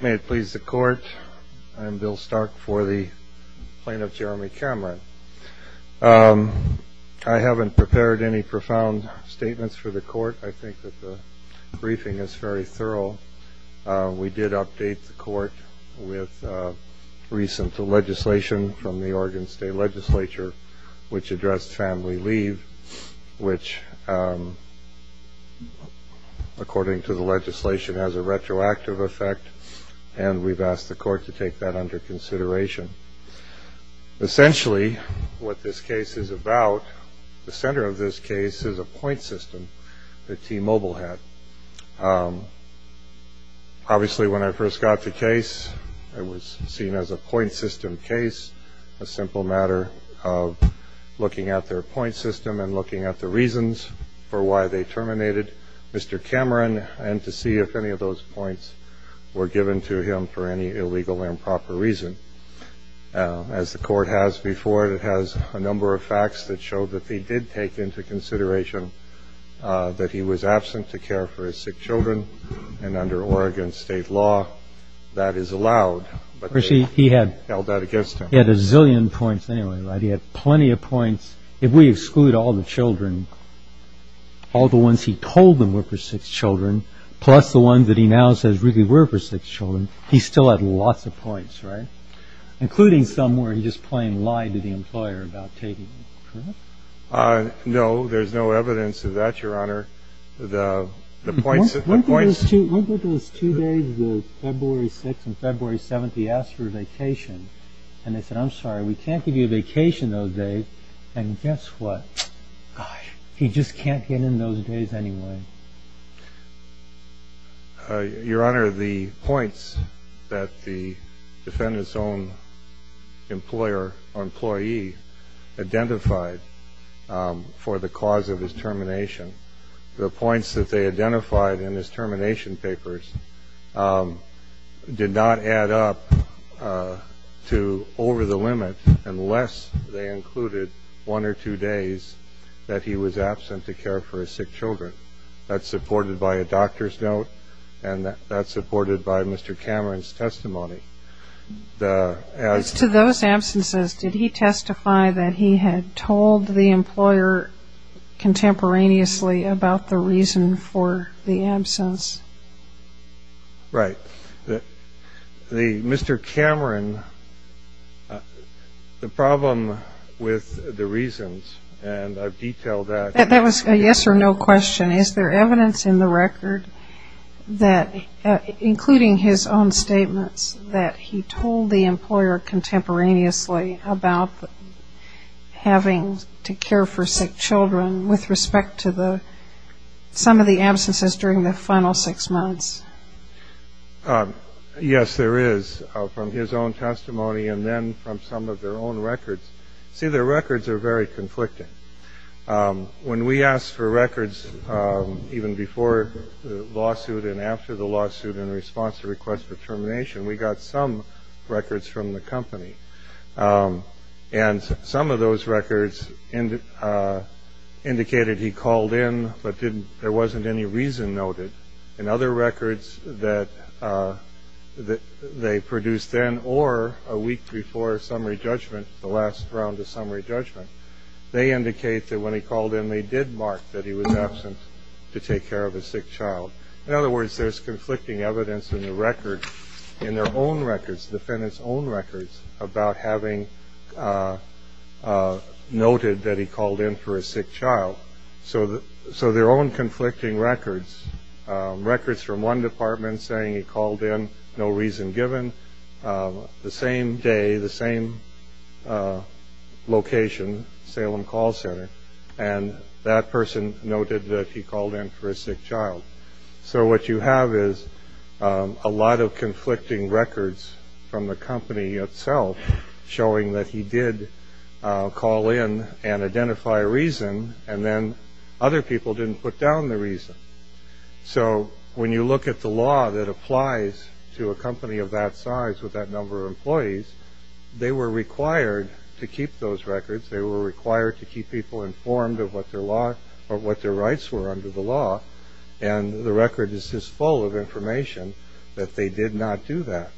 May it please the Court, I'm Bill Stark for the Plaintiff, Jeremy Cameron. I haven't prepared any profound statements for the Court. I think that the briefing is very thorough. We did update the Court with recent legislation from the Oregon State Legislature which addressed family leave which, according to the legislation, has a retroactive effect. And we've asked the Court to take that under consideration. Essentially what this case is about, the center of this case is a point system that T-Mobile had. Obviously when I first got the case, it was seen as a point system case, a simple matter of looking at their point system and looking at the reasons for why they terminated Mr. Cameron and to see if any of those points were given to him for any illegal improper reason. As the Court has before it, it has a number of facts that show that they did take into consideration that he was absent to care for his sick children. And under Oregon State law, that is allowed. But they held that against him. He had a zillion points anyway, right? He had plenty of points. If we exclude all the children, all the ones he told them were for sick children, plus the ones that he now says really were for sick children, he still had lots of points, right? Including some where he just plain lied to the employer about taking them, correct? No, there's no evidence of that, Your Honor. The points that the points Look at those two days, the February 6th and February 7th, he asked for a vacation. And they said, I'm sorry, we can't give you a vacation those days. And guess what? He just can't get in those days anyway. Your Honor, the points that the defendant's own employer or employee identified for the cause of his termination, the points that they identified in his termination papers did not add up to over the limit unless they included one or two days that he was absent to care for his sick children. That's supported by a doctor's note, and that's supported by Mr. Cameron's testimony. As to those absences, did he testify that he had told the employer contemporaneously about the reason for the absence? Right. Mr. Cameron, the problem with the reasons, and I've detailed that That was a yes or no question. Is there evidence in the record that including his own statements that he told the employer contemporaneously about having to care for sick children with respect to the some of the absences during the final six months? Yes, there is from his own testimony and then from some of their own records. See, their records are very conflicting. When we asked for records even before the lawsuit and after the lawsuit in response to request for termination, we got some records from the company and some of those records and indicated he called in. But there wasn't any reason noted in other records that they produced then or a week before summary judgment, the last round of summary judgment. They indicate that when he called in, they did mark that he was absent to take care of a sick child. In other words, there's conflicting evidence in the record in their own records, the defendant's own records about having noted that he called in for a sick child. So so their own conflicting records, records from one department saying he called in no reason given the same day, the same location, Salem Call Center. And that person noted that he called in for a sick child. So what you have is a lot of conflicting records from the company itself showing that he did call in and identify a reason and then other people didn't put down the reason. So when you look at the law that applies to a company of that size with that number of employees, they were required to keep those records. They were required to keep people informed of what their law or what their rights were under the law. And the record is just full of information that they did not do that.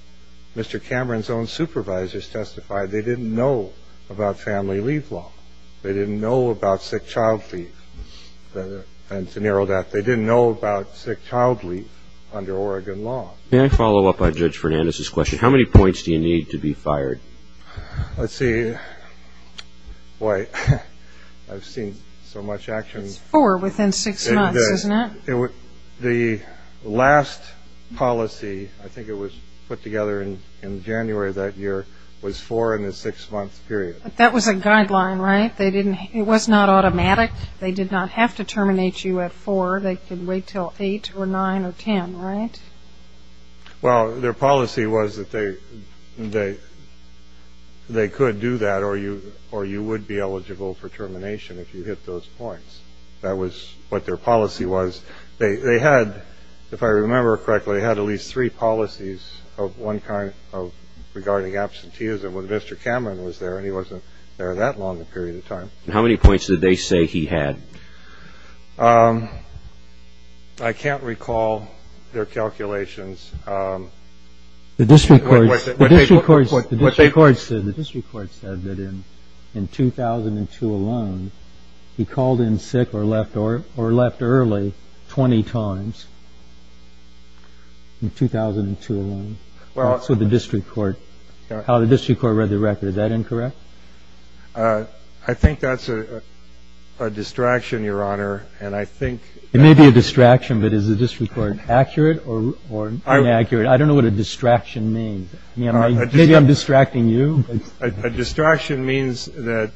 Mr. Cameron's own supervisors testified they didn't know about family leave law. They didn't know about sick child leave. And to narrow that, they didn't know about sick child leave under Oregon law. May I follow up on Judge Fernandez's question? How many points do you need to be fired? Let's see. Boy, I've seen so much action. Four within six months, isn't it? The last policy, I think it was put together in January of that year, was four in a six-month period. That was a guideline, right? It was not automatic. They did not have to terminate you at four. They could wait till eight or nine or ten, right? Well, their policy was that they could do that or you would be eligible for termination if you hit those points. That was what their policy was. They had, if I remember correctly, had at least three policies of one kind of regarding absenteeism when Mr. Cameron was there and he wasn't there that long a period of time. How many points did they say he had? I can't recall their calculations. The district court said that in 2002 alone, he called in sick or left early 20 times in 2002 alone. So the district court, how the district court read the record, is that incorrect? I think that's a distraction, Your Honor. And I think... It may be a distraction, but is the district court accurate or... I don't think it's accurate, Your Honor. I don't know what a distraction means. Maybe I'm distracting you. A distraction means that,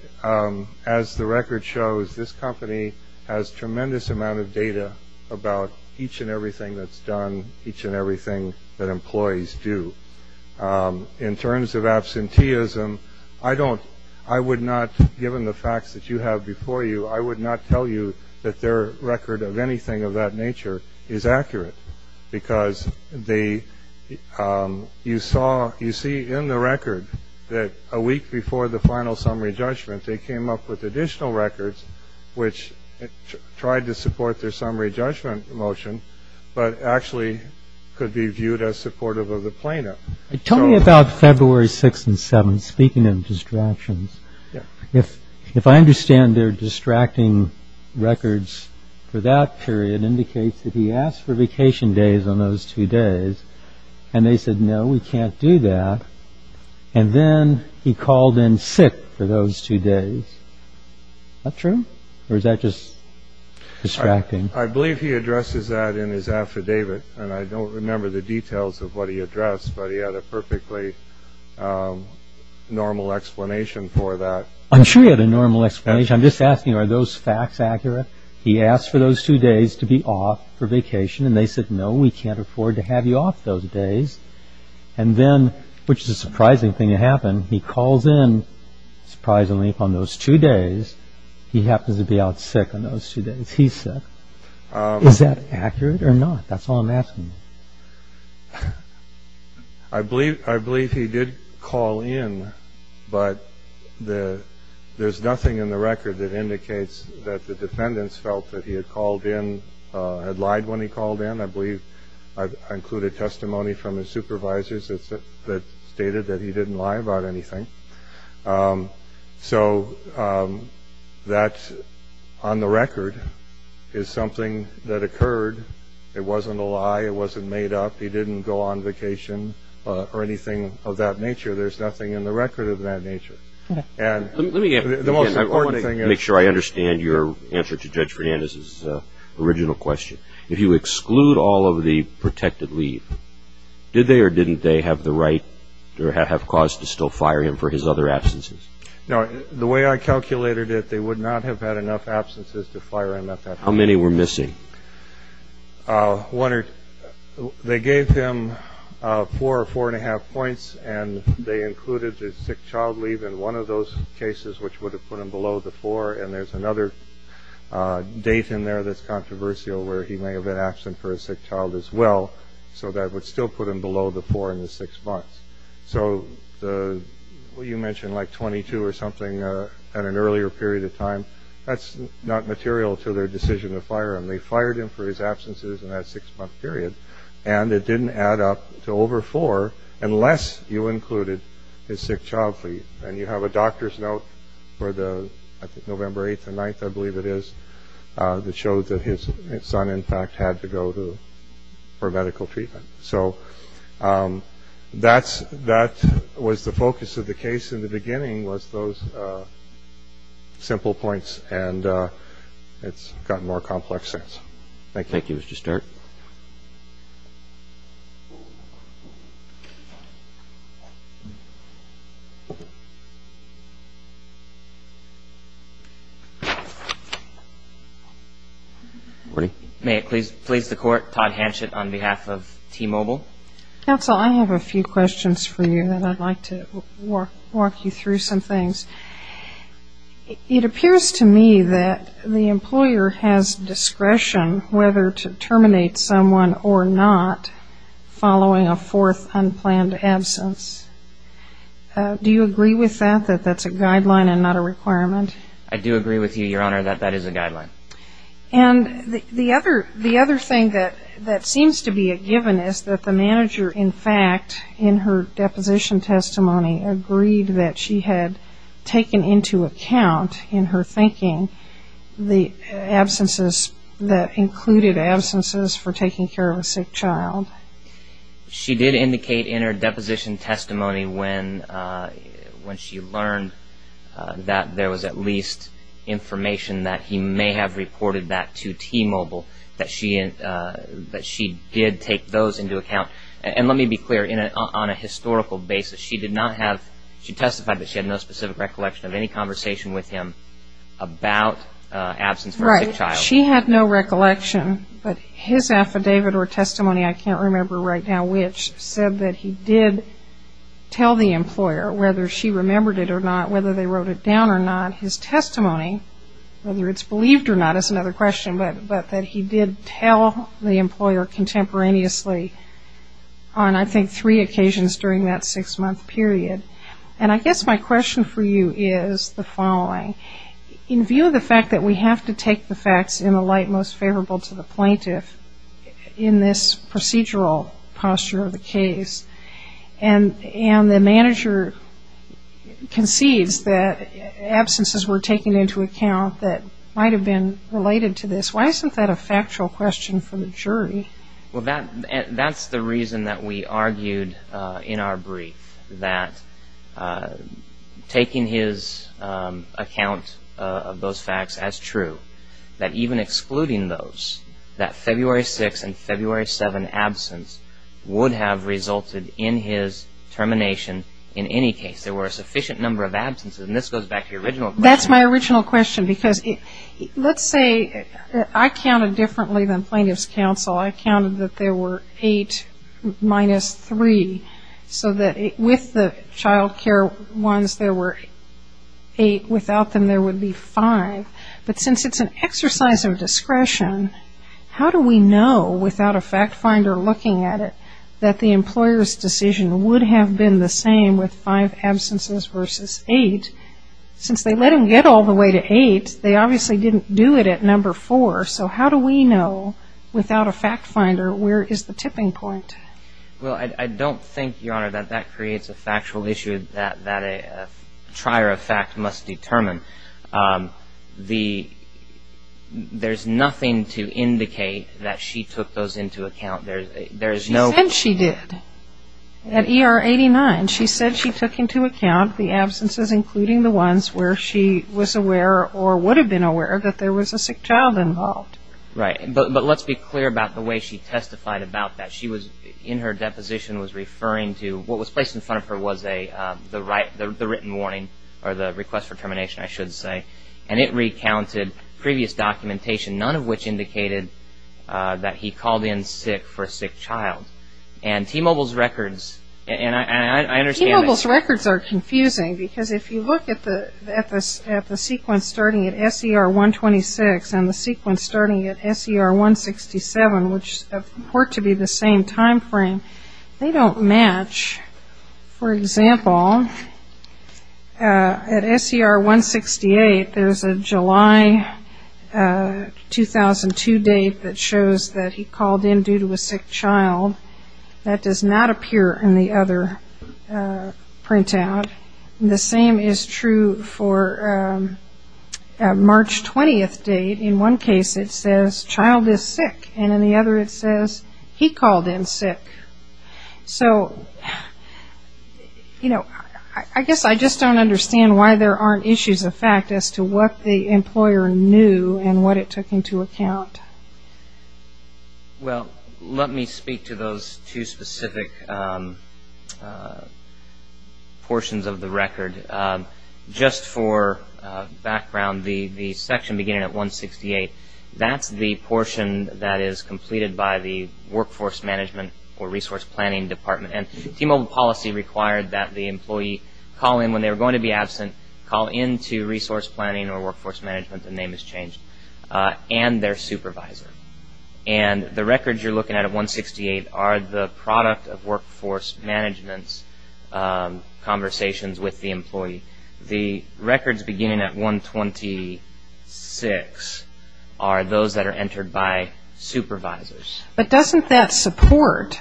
as the record shows, this company has tremendous amount of data about each and everything that's done, each and everything that employees do. In terms of absenteeism, I don't, I would not, given the facts that you have before you, I would not tell you that their record of anything of that nature is accurate. Because they, you saw, you see in the record that a week before the final summary judgment, they came up with additional records which tried to support their summary judgment motion, but actually could be viewed as supportive of the plaintiff. Tell me about February 6th and 7th, speaking of distractions. If, if I understand their distracting records for that period indicates that he asked for vacation days on those two days and they said, no, we can't do that. And then he called in sick for those two days. That true? Or is that just distracting? I believe he addresses that in his affidavit. And I don't remember the details of what he addressed, but he had a perfectly normal explanation for that. I'm sure he had a normal explanation. I'm just asking, are those facts accurate? He asked for those two days to be off for vacation. And they said, no, we can't afford to have you off those days. And then, which is a surprising thing to happen, he calls in, surprisingly, on those two days, he happens to be out sick on those two days. He said, is that accurate or not? That's all I'm asking. I believe I believe he did call in, but the there's nothing in the record that indicates that the defendants felt that he had called in, had lied when he called in. I believe I've included testimony from his supervisors that stated that he didn't lie about anything. So that's on the record is something that occurred. It wasn't a lie. It wasn't made up. He didn't go on vacation or anything of that nature. There's nothing in the record of that nature. And let me make sure I understand your answer to Judge Fernandez's original question. If you exclude all of the protected leave, did they or didn't they have the right to have cause to still fire him for his other absences? Now, the way I calculated it, they would not have had enough absences to fire him. How many were missing? One or they gave him four or four and a half points, and they included the sick child leave in one of those cases, which would have put him below the four. And there's another date in there that's controversial where he may have been absent for a sick child as well. So that would still put him below the four in the six months. So the you mentioned, like, 22 or something at an earlier period of time. That's not material to their decision to fire him. They fired him for his absences in that six month period. And it didn't add up to over four unless you included his sick child fee. And you have a doctor's note for the November 8th and 9th, I believe it is, that shows that his son, in fact, had to go to for medical treatment. So that's that was the focus of the case in the beginning was those simple points. And it's gotten more complex since. Thank you. Mr. Start. May it please please the court. Todd Hanchett on behalf of T-Mobile. Counsel, I have a few questions for you that I'd like to walk you through some things. It appears to me that the employer has discretion whether to terminate someone or not following a fourth unplanned absence. Do you agree with that, that that's a guideline and not a requirement? I do agree with you, Your Honor, that that is a guideline. And the other the other thing that that seems to be a given is that the manager, in fact, in her deposition testimony, agreed that she had taken into account in her thinking the absences that included absences for taking care of a sick child. She did indicate in her deposition testimony when when she learned that there was at least information that he may have reported that to T-Mobile, that she that she did take those into account. And let me be clear, on a historical basis, she did not have she testified that she had no specific recollection of any conversation with him about absence. Right. She had no recollection, but his affidavit or testimony, I can't remember right now which, said that he did tell the employer, whether she remembered it or not, whether they wrote it down or not, his testimony, whether it's believed or not is another question, but that he did tell the employer contemporaneously on, I think, three occasions during that six-month period. And I guess my question for you is the following. In view of the fact that we have to take the facts in the light most favorable to the plaintiff in this procedural posture of the case, and and the manager concedes that absences were taken into account that might have been related to this, why isn't that a factual question for the jury? Well, that's the reason that we argued in our brief that taking his account of those facts as true, that even excluding those, that February 6 and February 7 absence would have resulted in his termination in any case. There were a sufficient number of absences, and this goes back to your original question. Because let's say I counted differently than plaintiff's counsel. I counted that there were eight minus three, so that with the child care ones, there were eight. Without them, there would be five. But since it's an exercise of discretion, how do we know without a fact finder looking at it that the employer's decision would have been the same with five absences versus eight? Since they let him get all the way to eight, they obviously didn't do it at number four. So how do we know without a fact finder where is the tipping point? Well, I don't think, Your Honor, that that creates a factual issue that a trier of fact must determine. There's nothing to indicate that she took those into account. She said she did. At ER 89, she said she took into account the absences, including the ones where she was aware or would have been aware that there was a sick child involved. Right. But let's be clear about the way she testified about that. In her deposition was referring to what was placed in front of her was the written warning or the request for termination, I should say. And it recounted previous documentation, none of which indicated that he called in sick for a sick child. And T-Mobile's records, and I understand this. T-Mobile's records are confusing because if you look at the sequence starting at SER 126 and the sequence starting at SER 167, which were to be the same time frame, they don't match. For example, at SER 168, there's a July 2002 date that shows that he called in due to a sick child. That does not appear in the other printout. The same is true for a March 20th date. In one case, it says, child is sick. And in the other, it says, he called in sick. So, you know, I guess I just don't understand why there aren't issues of fact as to what the employer knew and what it took into account. Well, let me speak to those two specific portions of the record. Just for background, the section beginning at 168, that's the portion that is completed by the Workforce Management or Resource Planning Department. And T-Mobile policy required that the employee call in when they were going to be absent, call in to Resource Planning or Workforce Management, the name has changed, and their supervisor. And the records you're looking at at 168 are the product of Workforce Management's conversations with the employee. The records beginning at 126 are those that are entered by supervisors. But doesn't that support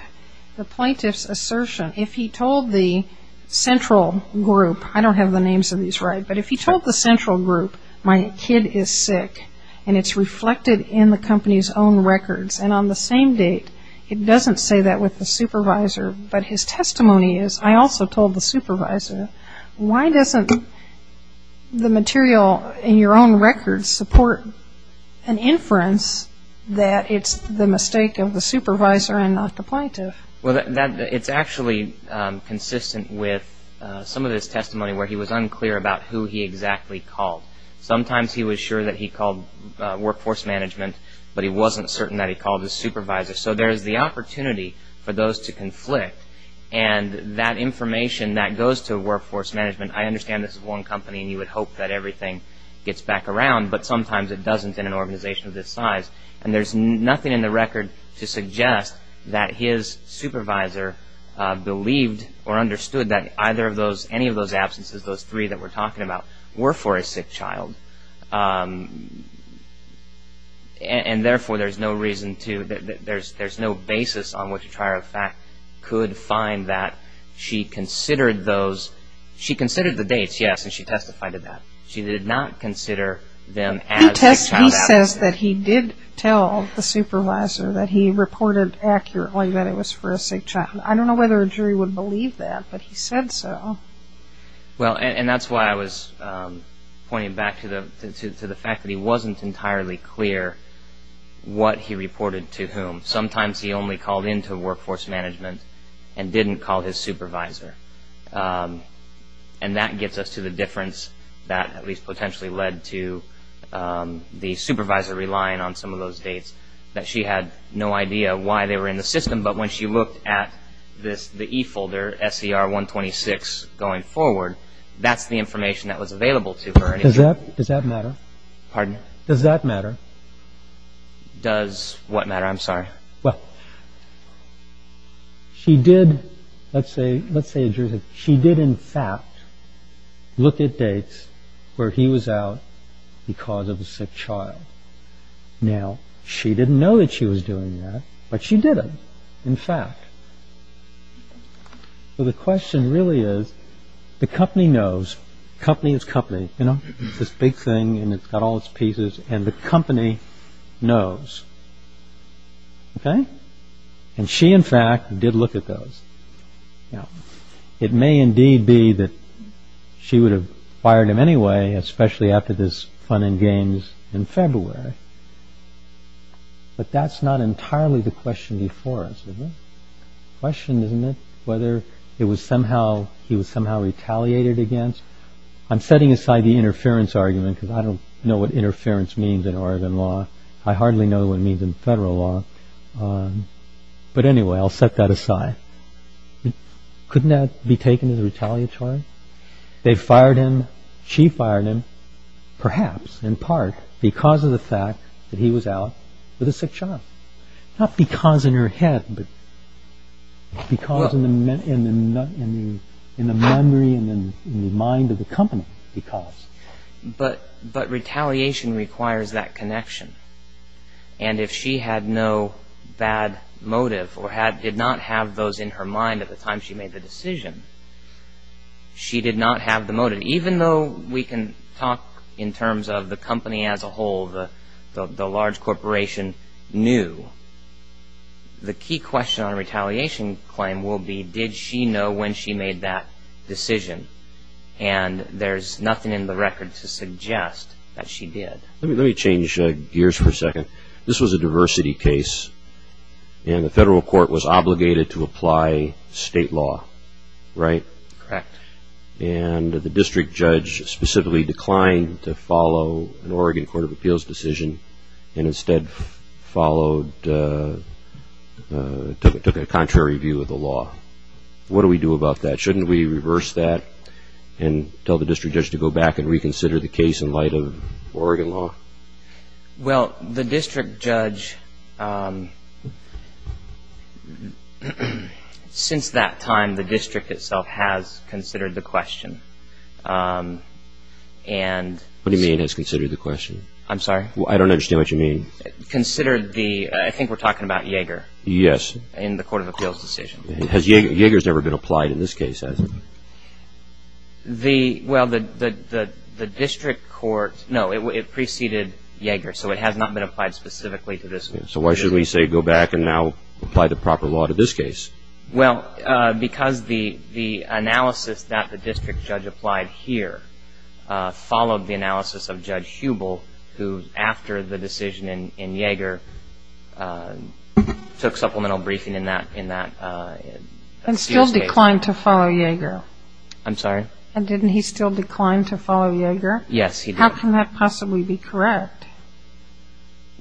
the plaintiff's assertion? If he told the central group, I don't have the names of these right, but if he told the central group, my kid is sick, and it's reflected in the company's own records, and on the same date, it doesn't say that with the supervisor, but his testimony is, I also told the supervisor, why doesn't the material in your own records support an inference that it's the mistake of the supervisor and not the plaintiff? Well, it's actually consistent with some of his testimony where he was unclear about who he exactly called. Sometimes he was sure that he called Workforce Management, but he wasn't certain that he called his supervisor. So there's the opportunity for those to conflict, and that information that goes to Workforce Management, I understand this is one company and you would hope that everything gets back around, but sometimes it doesn't in an organization of this size. And there's nothing in the record to suggest that his supervisor believed or understood that either of those, any of those absences, those three that we're talking about, were for a sick child. And therefore, there's no reason to, there's no basis on which a trier of fact could find that she considered those, she considered the dates, yes, and she testified to that. She did not consider them as sick child absences. He says that he did tell the supervisor that he reported accurately that it was for a sick child. I don't know whether a jury would believe that, but he said so. Well, and that's why I was pointing back to the fact that he wasn't entirely clear what he reported to whom. Sometimes he only called into Workforce Management and didn't call his supervisor. And that gets us to the difference that at least potentially led to the supervisor relying on some of those dates, that she had no idea why they were in the system, but when she looked at the E-folder, SCR 126 going forward, that's the information that was available to her. Does that matter? Pardon? Does that matter? Does what matter? I'm sorry. Well, she did, let's say, she did in fact look at dates where he was out because of a sick child. Now, she didn't know that she was doing that, but she did in fact. So the question really is, the company knows, company is company, you know, it's this big thing and it's got all its pieces and the company knows. OK. And she, in fact, did look at those. Now, it may indeed be that she would have fired him anyway, especially after this fun and games in February. But that's not entirely the question before us. The question is whether it was somehow he was somehow retaliated against. I'm setting aside the interference argument because I don't know what interference means in Oregon law. I hardly know what it means in federal law. But anyway, I'll set that aside. Couldn't that be taken as retaliatory? They fired him, she fired him, perhaps in part because of the fact that he was out with a sick child. Not because in her head, but because in the memory and in the mind of the company, because. But retaliation requires that connection. And if she had no bad motive or did not have those in her mind at the time she made the decision, she did not have the motive. Even though we can talk in terms of the company as a whole, the large corporation knew, the key question on a retaliation claim will be, did she know when she made that decision? And there's nothing in the record to suggest that she did. Let me change gears for a second. This was a diversity case, and the federal court was obligated to apply state law, right? Correct. And the district judge specifically declined to follow an Oregon Court of Appeals decision and instead followed, took a contrary view of the law. What do we do about that? Shouldn't we reverse that and tell the district judge to go back and reconsider the case in light of Oregon law? Well, the district judge, since that time, the district itself has considered the question. What do you mean has considered the question? I'm sorry? I don't understand what you mean. Considered the, I think we're talking about Yeager. Yes. In the Court of Appeals decision. Yeager's never been applied in this case, has he? Well, the district court, no, it preceded Yeager, so it has not been applied specifically to this case. So why should we say go back and now apply the proper law to this case? Well, because the analysis that the district judge applied here followed the analysis of Judge Hubel, who, after the decision in Yeager, took supplemental briefing in that case. And still declined to follow Yeager. I'm sorry? And didn't he still decline to follow Yeager? Yes, he did. How can that possibly be correct?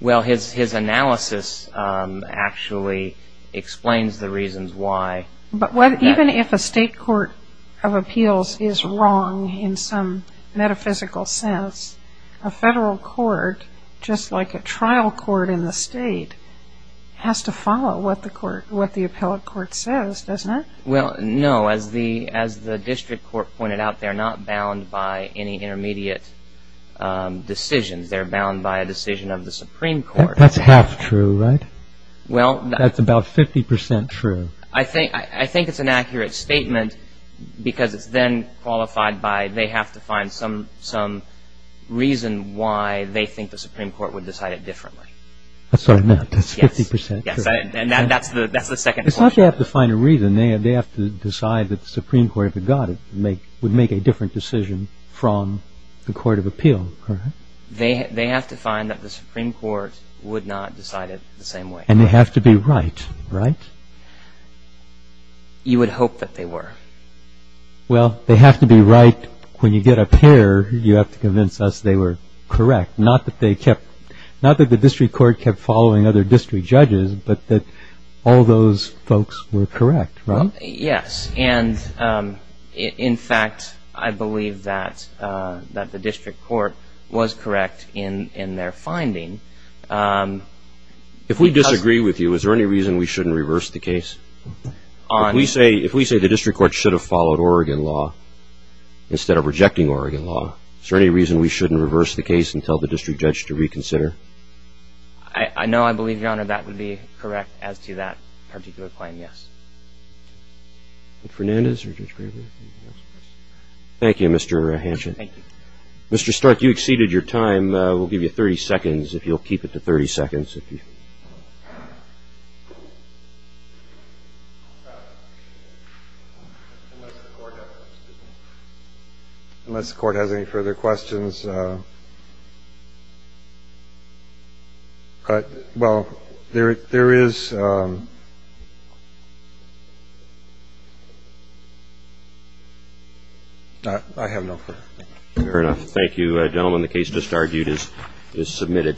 Well, his analysis actually explains the reasons why. But even if a state court of appeals is wrong in some metaphysical sense, a federal court, just like a trial court in the state, has to follow what the appellate court says, doesn't it? Well, no, as the district court pointed out, they're not bound by any intermediate decisions. They're bound by a decision of the Supreme Court. That's half true, right? That's about 50% true. I think it's an accurate statement because it's then qualified by they have to find some reason why they think the Supreme Court would decide it differently. I'm sorry, that's 50% true? Yes, and that's the second point. It's not they have to find a reason. They have to decide that the Supreme Court, if it got it, would make a different decision from the court of appeal. They have to find that the Supreme Court would not decide it the same way. And they have to be right, right? You would hope that they were. Well, they have to be right. When you get a pair, you have to convince us they were correct. Not that the district court kept following other district judges, but that all those folks were correct, right? Yes, and in fact, I believe that the district court was correct in their finding. If we disagree with you, is there any reason we shouldn't reverse the case? If we say the district court should have followed Oregon law instead of rejecting Oregon law, is there any reason we shouldn't reverse the case and tell the district judge to reconsider? I know I believe, Your Honor, that would be correct as to that particular claim, yes. Thank you, Mr. Hanschen. Thank you. Mr. Stark, you exceeded your time. We'll give you 30 seconds if you'll keep it to 30 seconds. Unless the court has any further questions. Well, there is. Fair enough. Thank you, gentlemen. The case just argued is submitted.